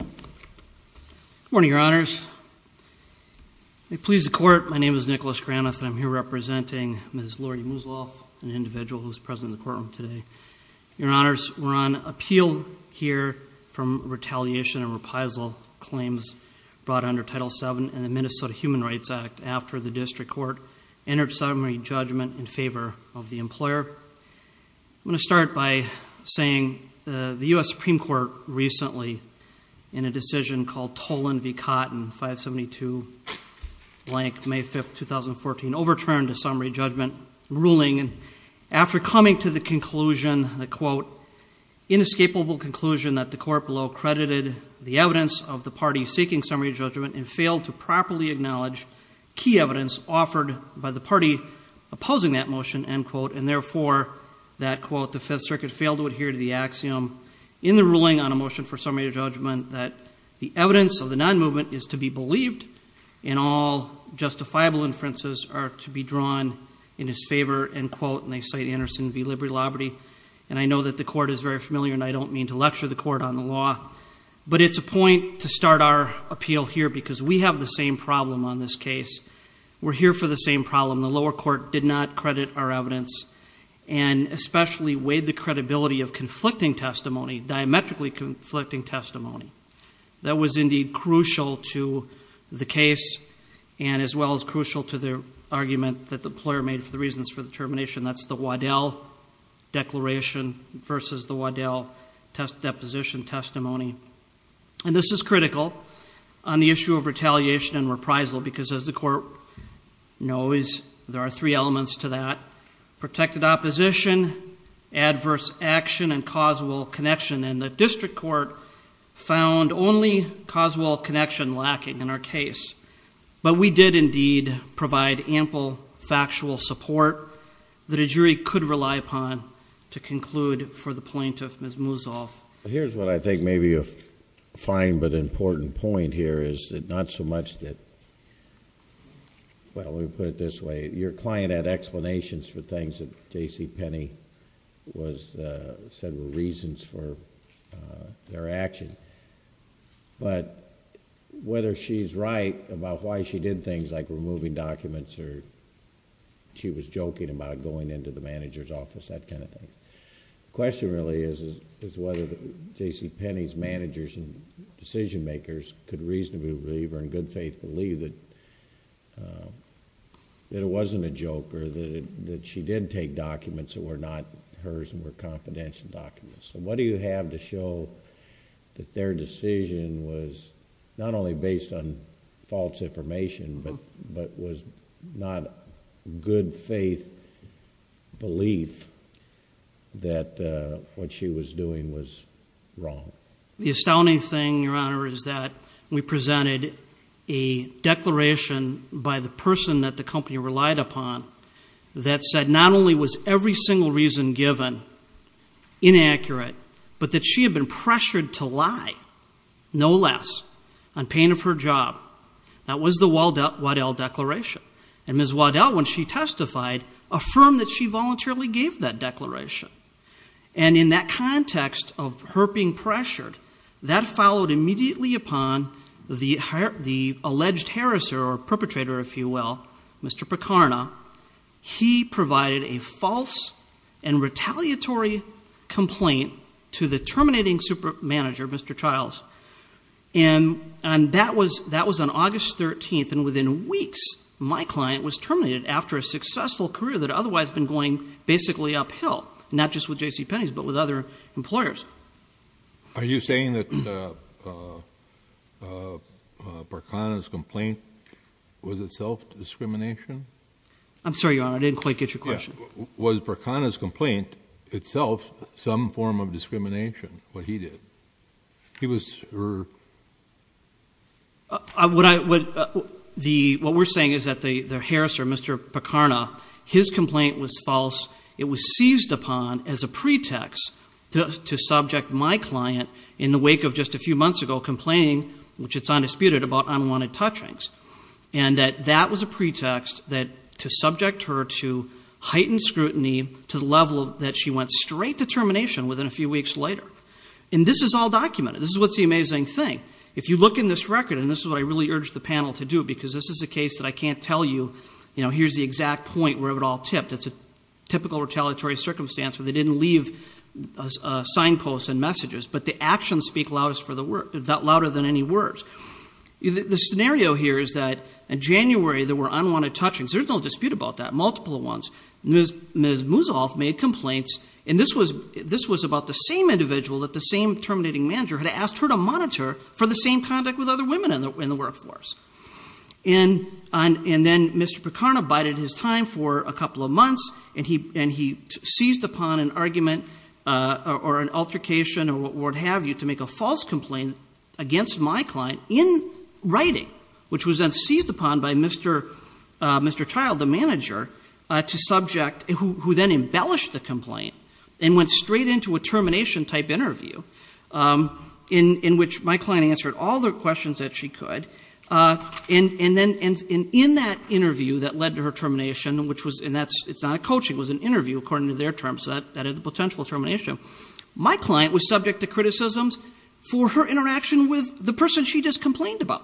Good morning, Your Honors. May it please the Court, my name is Nicholas Granath and I'm here representing Ms. Loralie Musolf, an individual who is present in the courtroom today. Your Honors, we're on appeal here from retaliation and reprisal claims brought under Title VII in the Minnesota Human Rights Act after the District Court entered summary judgment in favor of the employer. I'm going to start by saying the U.S. Supreme Court recently, in a decision called Tolan v. Cotton, 572 blank, May 5, 2014, overturned a summary judgment ruling after coming to the conclusion, a, quote, inescapable conclusion that the court below credited the evidence of the party seeking summary judgment and failed to properly acknowledge key evidence offered by the party opposing that motion, end quote. And therefore, that, quote, the Fifth Circuit failed to adhere to the axiom in the ruling on a motion for summary judgment that the evidence of the non-movement is to be believed and all justifiable inferences are to be drawn in his favor, end quote. And they cite Anderson v. Liberty. And I know that the court is very familiar and I don't mean to lecture the court on the law, but it's a point to start our appeal here because we have the same problem on this case. We're here for the same problem. The lower court did not credit our evidence and especially weighed the credibility of conflicting testimony, diametrically conflicting testimony. That was indeed crucial to the case and as well as crucial to the argument that the employer made for the reasons for the termination. That's the Waddell declaration versus the Waddell deposition testimony. And this is critical on the issue of retaliation and reprisal because as the court knows, there are three elements to that. One, adverse action and causal connection. And the district court found only causal connection lacking in our case. But we did indeed provide ample factual support that a jury could rely upon to conclude for the plaintiff, Ms. Musolf. Here's what I think may be a fine but important point here is that not so much that, well, let me put it this way. Your client had explanations for things that JCPenney said were reasons for their action. But whether she's right about why she did things like removing documents or she was joking about going into the manager's office, that kind of thing. The question really is whether JCPenney's managers and decision makers could reasonably believe or in good faith believe that it wasn't a joke or that she did take documents that were not hers and were confidential documents. So what do you have to show that their decision was not only based on false information but was not good faith belief that what she was doing was wrong? The astounding thing, Your Honor, is that we presented a declaration by the person that the company relied upon that said not only was every single reason given inaccurate, but that she had been pressured to lie, no less, on pain of her job. That was the Waddell declaration. And Ms. Waddell, when she testified, affirmed that she voluntarily gave that declaration. And in that context of her being pressured, that followed immediately upon the alleged harasser or perpetrator, if you will, Mr. Picarna. He provided a false and retaliatory complaint to the terminating super manager, Mr. Childs. And that was on August 13th, and within weeks, my client was terminated after a successful career that had otherwise been going basically uphill, not just with JCPenney's but with other employers. Are you saying that Picarna's complaint was itself discrimination? I'm sorry, Your Honor, I didn't quite get your question. Was Picarna's complaint itself some form of discrimination, what he did? He was, or? What we're saying is that the harasser, Mr. Picarna, his complaint was false. It was seized upon as a pretext to subject my client, in the wake of just a few months ago, complaining, which it's undisputed, about unwanted touchings. And that that was a pretext to subject her to heightened scrutiny to the level that she went straight to termination within a few weeks later. And this is all documented. This is what's the amazing thing. If you look in this record, and this is what I really urge the panel to do, because this is a case that I can't tell you, you know, here's the exact point where it all tipped. It's a typical retaliatory circumstance where they didn't leave signposts and messages, but the actions speak loudest for the word, louder than any words. The scenario here is that in January, there were unwanted touchings. There's no dispute about that, multiple ones. Ms. Musolf made complaints, and this was about the same individual that the same terminating manager had asked her to monitor for the same conduct with other women in the workforce. And then Mr. Picarna bided his time for a couple of months, and he seized upon an argument or an altercation or what have you to make a false complaint against my client in writing, which was then seized upon by Mr. Child, the manager, who then embellished the complaint and went straight into a termination-type interview in which my client answered all the questions that she could. And in that interview that led to her termination, and it's not a coaching. It was an interview, according to their terms, that had the potential termination. My client was subject to criticisms for her interaction with the person she just complained about.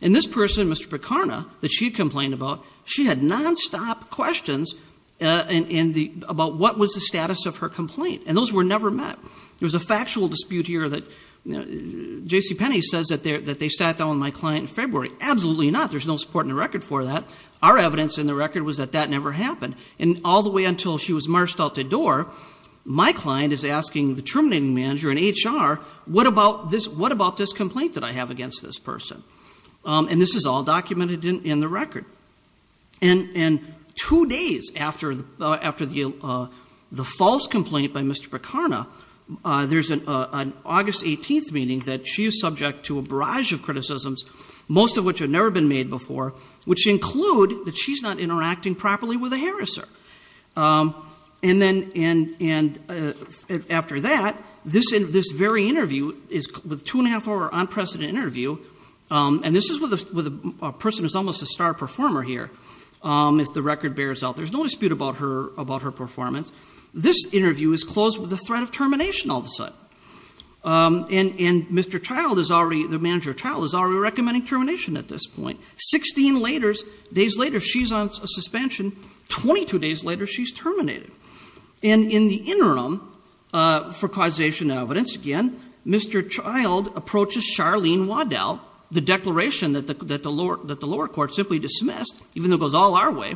And this person, Mr. Picarna, that she complained about, she had nonstop questions about what was the status of her complaint, and those were never met. There was a factual dispute here that JCPenney says that they sat down with my client in February. Absolutely not. There's no support in the record for that. Our evidence in the record was that that never happened. And all the way until she was marched out the door, my client is asking the terminating manager in HR, what about this complaint that I have against this person? And this is all documented in the record. And two days after the false complaint by Mr. Picarna, there's an August 18th meeting that she is subject to a barrage of criticisms, most of which have never been made before, which include that she's not interacting properly with a harasser. And after that, this very interview is two and a half hour unprecedented interview, and this is with a person who's almost a star performer here, if the record bears out. There's no dispute about her performance. This interview is closed with a threat of termination all of a sudden. And Mr. Child, the manager of Child, is already recommending termination at this point. Sixteen days later, she's on suspension. Twenty-two days later, she's terminated. And in the interim, for causation of evidence again, Mr. Child approaches Charlene Waddell, the declaration that the lower court simply dismissed, even though it goes all our way,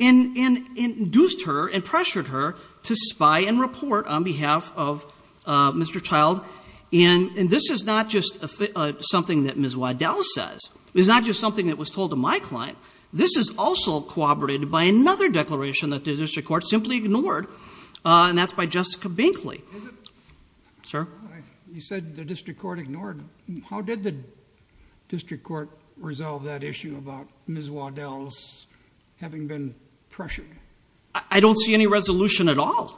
and induced her and pressured her to spy and report on behalf of Mr. Child. And this is not just something that Ms. Waddell says. It's not just something that was told to my client. This is also corroborated by another declaration that the district court simply ignored, and that's by Jessica Binkley. Sir? You said the district court ignored. How did the district court resolve that issue about Ms. Waddell's having been pressured? I don't see any resolution at all.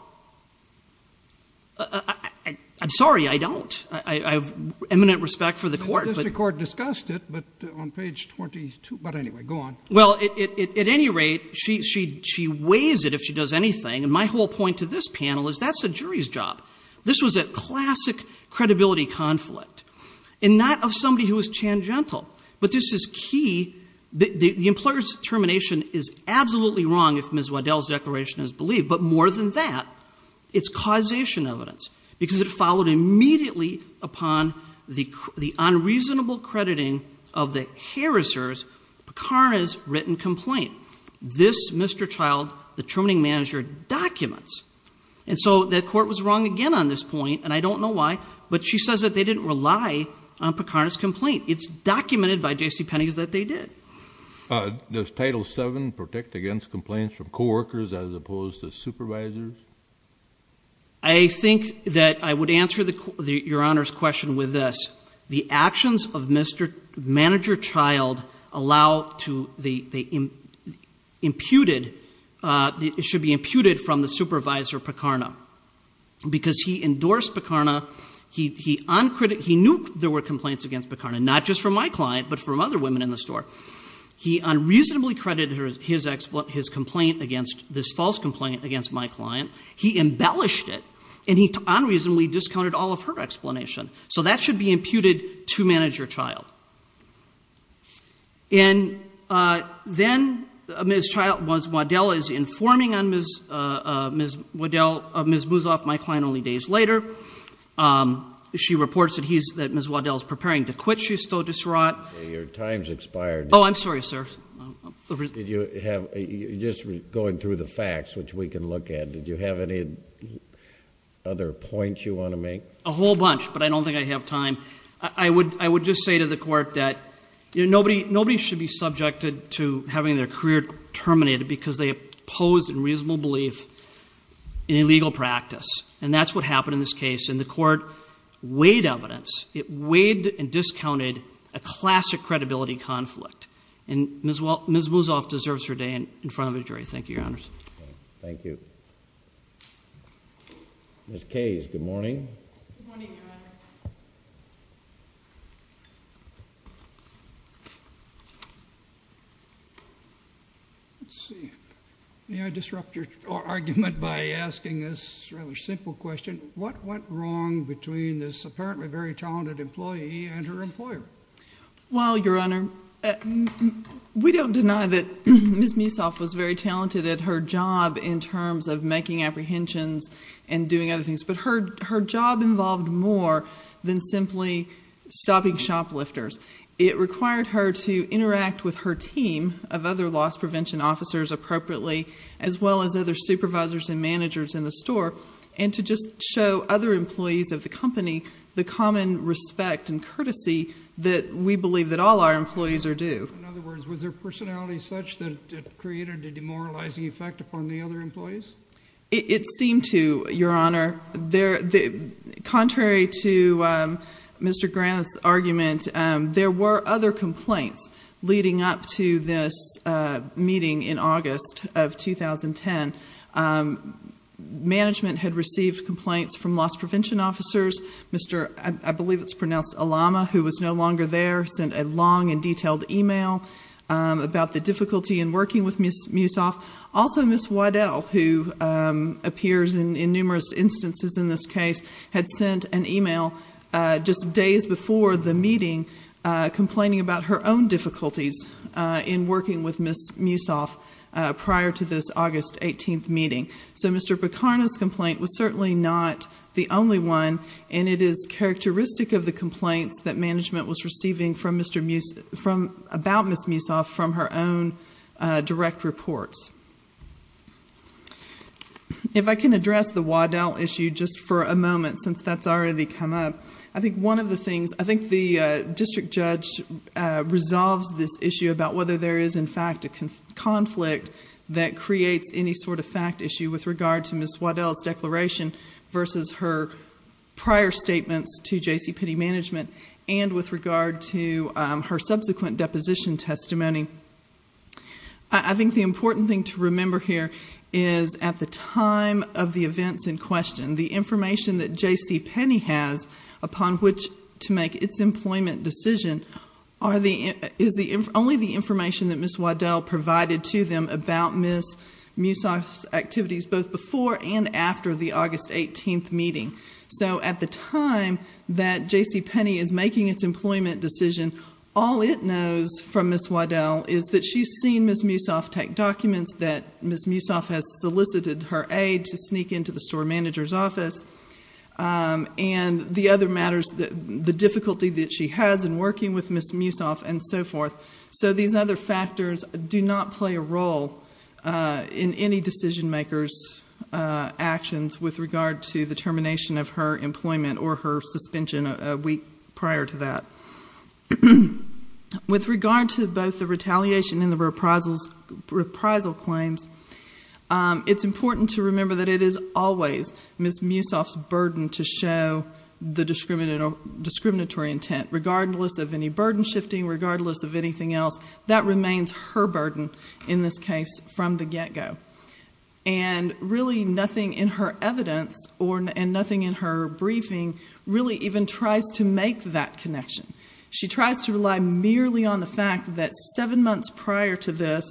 I'm sorry, I don't. I have eminent respect for the court. The district court discussed it, but on page 22, but anyway, go on. Well, at any rate, she weighs it if she does anything, and my whole point to this panel is that's the jury's job. This was a classic credibility conflict, and not of somebody who was tangential, but this is key. The employer's determination is absolutely wrong if Ms. Waddell's declaration is believed, but more than that, it's causation evidence, because it followed immediately upon the unreasonable crediting of the Harrisers, Picarna's, written complaint. This, Mr. Child, the terminating manager, documents. And so the court was wrong again on this point, and I don't know why, but she says that they didn't rely on Picarna's complaint. It's documented by J.C. Penney's that they did. Does Title VII protect against complaints from coworkers as opposed to supervisors? I think that I would answer Your Honor's question with this. The actions of Manager Child should be imputed from the supervisor, Picarna, because he endorsed Picarna, he knew there were complaints against Picarna, not just from my client, but from other women in the store. He unreasonably credited this false complaint against my client. He embellished it, and he unreasonably discounted all of her explanation. So that should be imputed to Manager Child. And then Ms. Child, Ms. Waddell, is informing on Ms. Waddell, Ms. Boozoff, my client, only days later. She reports that Ms. Waddell is preparing to quit. She's still disraught. Your time's expired. Oh, I'm sorry, sir. You're just going through the facts, which we can look at. Did you have any other points you want to make? A whole bunch, but I don't think I have time. I would just say to the Court that nobody should be subjected to having their career terminated because they opposed unreasonable belief in illegal practice, and that's what happened in this case. And the Court weighed evidence. It weighed and discounted a classic credibility conflict. And Ms. Boozoff deserves her day in front of a jury. Thank you, Your Honors. Thank you. Ms. Kays, good morning. Good morning, Your Honor. Let's see. May I disrupt your argument by asking this rather simple question? What went wrong between this apparently very talented employee and her employer? Well, Your Honor, we don't deny that Ms. Meesoff was very talented at her job in terms of making apprehensions and doing other things. But her job involved more than simply stopping shoplifters. It required her to interact with her team of other loss prevention officers appropriately, as well as other supervisors and managers in the store, and to just show other employees of the company the common respect and courtesy that we believe that all our employees are due. In other words, was her personality such that it created a demoralizing effect upon the other employees? It seemed to, Your Honor. Contrary to Mr. Grant's argument, there were other complaints leading up to this meeting in August of 2010. Management had received complaints from loss prevention officers. I believe it's pronounced Alama, who was no longer there, sent a long and detailed e-mail about the difficulty in working with Ms. Meesoff. Also, Ms. Waddell, who appears in numerous instances in this case, had sent an e-mail just days before the meeting complaining about her own difficulties in working with Ms. Meesoff prior to this August 18th meeting. So Mr. Bacarna's complaint was certainly not the only one, and it is receiving about Ms. Meesoff from her own direct reports. If I can address the Waddell issue just for a moment, since that's already come up, I think one of the things... I think the district judge resolves this issue about whether there is, in fact, a conflict that creates any sort of fact issue with regard to Ms. Waddell's declaration versus her prior statements to JCPenney Management and with regard to her subsequent deposition testimony. I think the important thing to remember here is at the time of the events in question, the information that JCPenney has upon which to make its employment decision is only the information that Ms. Waddell provided to them about Ms. Meesoff's activities both before and after the August 18th meeting. So at the time that JCPenney is making its employment decision, all it knows from Ms. Waddell is that she's seen Ms. Meesoff take documents, that Ms. Meesoff has solicited her aid to sneak into the store manager's office, and the other matters... the difficulty that she has in working with Ms. Meesoff and so forth. So these other factors do not play a role in any decision maker's actions with regard to the termination of her employment or her suspension a week prior to that. With regard to both the retaliation and the reprisal claims, it's important to remember that it is always Ms. Meesoff's burden to show the discriminatory intent regardless of any burden shifting, regardless of anything else. That remains her burden in this case from the get-go. And really nothing in her evidence and nothing in her briefing really even tries to make that connection. She tries to rely merely on the fact that seven months prior to this,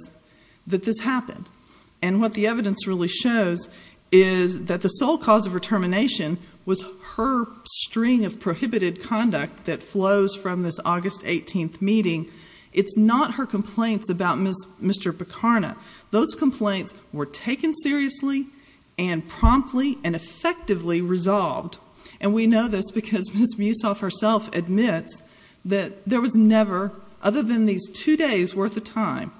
that this happened. And what the evidence really shows is that the sole cause of her termination was her string of prohibited conduct that flows from this August 18th meeting. It's not her complaints about Mr. Bacarna. Those complaints were taken seriously and promptly and effectively resolved. And we know this because Ms. Meesoff herself admits that there was never, other than these two days' worth of time,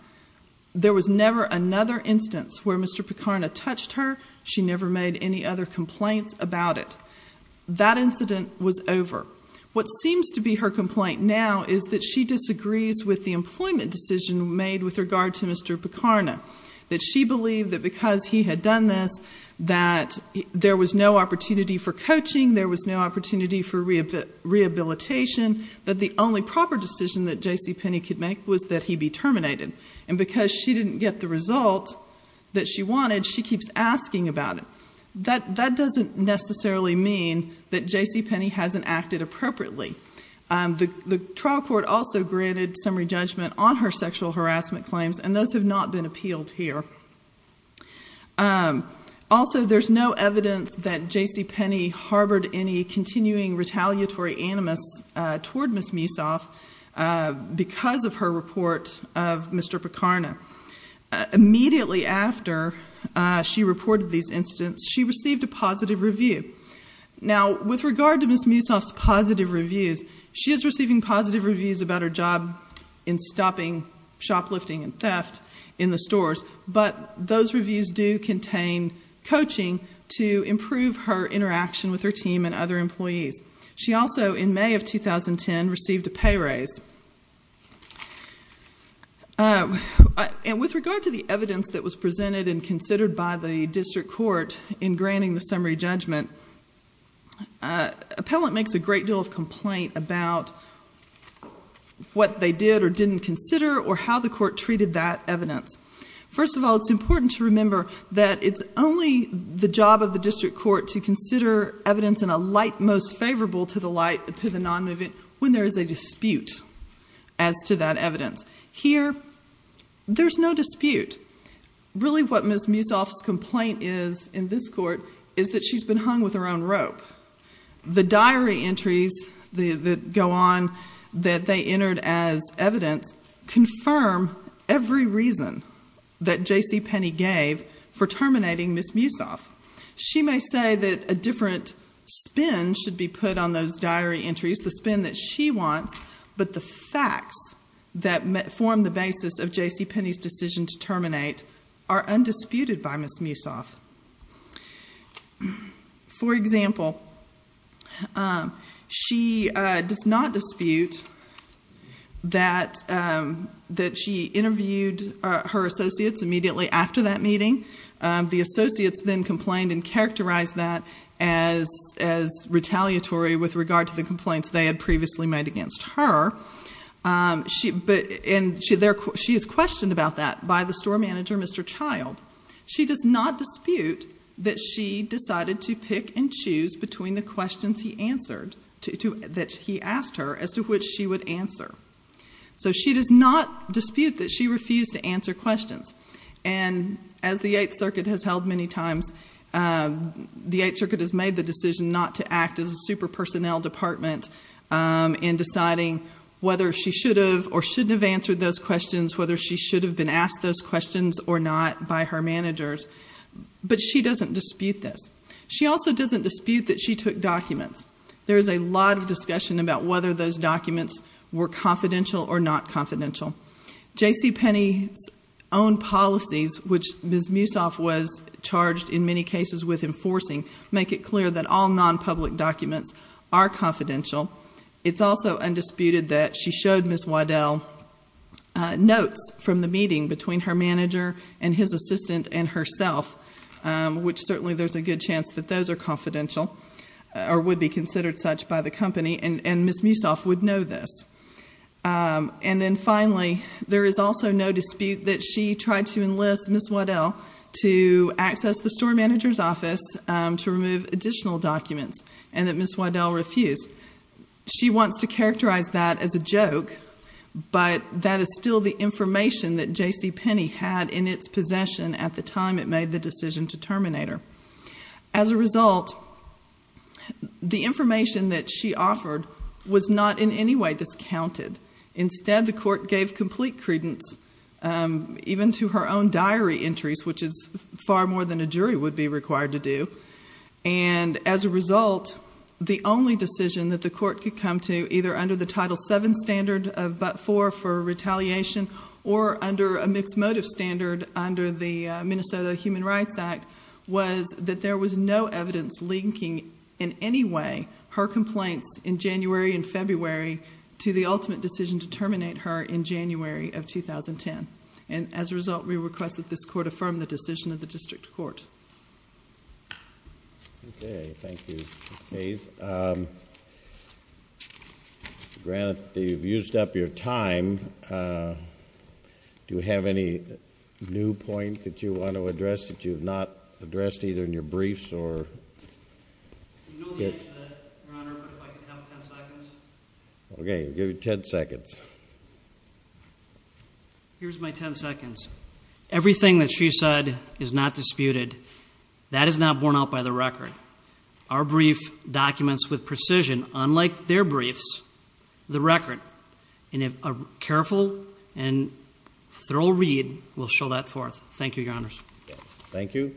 there was never another instance where Mr. Bacarna touched her. She never made any other complaints about it. That incident was over. What seems to be her complaint now is that she disagrees with the employment decision made with regard to Mr. Bacarna. That she believed that because he had done this, that there was no opportunity for coaching, there was no opportunity for rehabilitation, that the only proper decision that J.C. Penney could make was that he be terminated. And because she didn't get the result that she wanted, she keeps asking about it. That doesn't necessarily mean that J.C. Penney hasn't acted appropriately. The trial court also granted summary judgment on her sexual harassment claims, and those have not been appealed here. Also, there's no evidence that J.C. Penney harbored any continuing retaliatory animus toward Ms. Meesoff because of her report of Mr. Bacarna. Immediately after she reported these incidents, she received a positive review. Now, with regard to Ms. Meesoff's positive reviews, she is receiving positive reviews about her job in stopping shoplifting and theft in the stores, but those reviews do contain coaching to improve her interaction with her team and other employees. She also, in May of 2010, received a pay raise. With regard to the evidence that was presented and considered by the district court in granting the summary judgment, appellant makes a great deal of complaint about what they did or didn't consider or how the court treated that evidence. First of all, it's important to remember that it's only the job of the district court to consider evidence in a light most favorable to the non-movement when there is a dispute as to that evidence. Here, there's no dispute. Really, what Ms. Meesoff's complaint is in this court is that she's been hung with her own rope. The diary entries that go on that they entered as evidence confirm every reason that J.C. Penney gave for terminating Ms. Meesoff. She may say that a different spin should be put on those diary entries, the spin that she wants, but the facts that form the basis of J.C. Penney's decision to terminate are undisputed by Ms. Meesoff. For example, she does not dispute that she interviewed her associates immediately after that meeting. The associates then complained and characterized that as retaliatory with regard to the complaints they had previously made against her. She is questioned about that by the store manager, Mr. Child. She does not dispute that she decided to pick and choose between the questions he asked her as to which she would answer. She does not dispute that she refused to answer questions. As the Eighth Circuit has held many times, the Eighth Circuit has made the decision not to act as a super personnel department in deciding whether she should have or shouldn't have answered those questions, whether she should have been asked those questions or not by her managers. But she doesn't dispute this. She also doesn't dispute that she took documents. There is a lot of discussion about whether those documents were confidential or not confidential. J.C. Penney's own policies, which Ms. Meesoff was charged in many cases with enforcing, make it clear that all non-public documents are confidential. It's also undisputed that she showed Ms. Waddell notes from the meeting between her manager and his assistant and herself, which certainly there's a good chance that those are confidential or would be considered such by the company, and Ms. Meesoff would know this. And then finally, there is also no dispute that she tried to enlist Ms. Waddell to access the store manager's office to remove additional documents and that Ms. Waddell refused. She wants to characterize that as a joke, but that is still the information that J.C. Penney had in its possession at the time it made the decision to terminate her. As a result, the information that she offered was not in any way discounted. Instead, the court gave complete credence even to her own diary entries, which is far more than a jury would be required to do. And as a result, the only decision that the court could come to, either under the Title VII standard of but for, for retaliation, or under a mixed motive standard under the Minnesota Human Rights Act, was that there was no evidence linking in any way her complaints in January and February to the ultimate decision to terminate her in January of 2010. And as a result, we request that this court affirm the decision of the district court. Okay. Thank you, Ms. Mays. Granted, you've used up your time. Do you have any new point that you want to address that you have not addressed either in your briefs or... You know the answer to that, Your Honor, but if I could have ten seconds. Okay. I'll give you ten seconds. Here's my ten seconds. Everything that she said is not disputed. That is not borne out by the record. Our brief documents with precision, unlike their briefs, the record, in a careful and thorough read, will show that forth. Thank you, Your Honors. Thank you.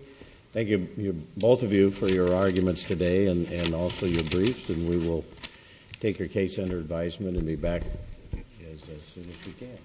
Thank you, both of you, for your arguments today and also your briefs, and we will take your case under advisement and be back as soon as we can.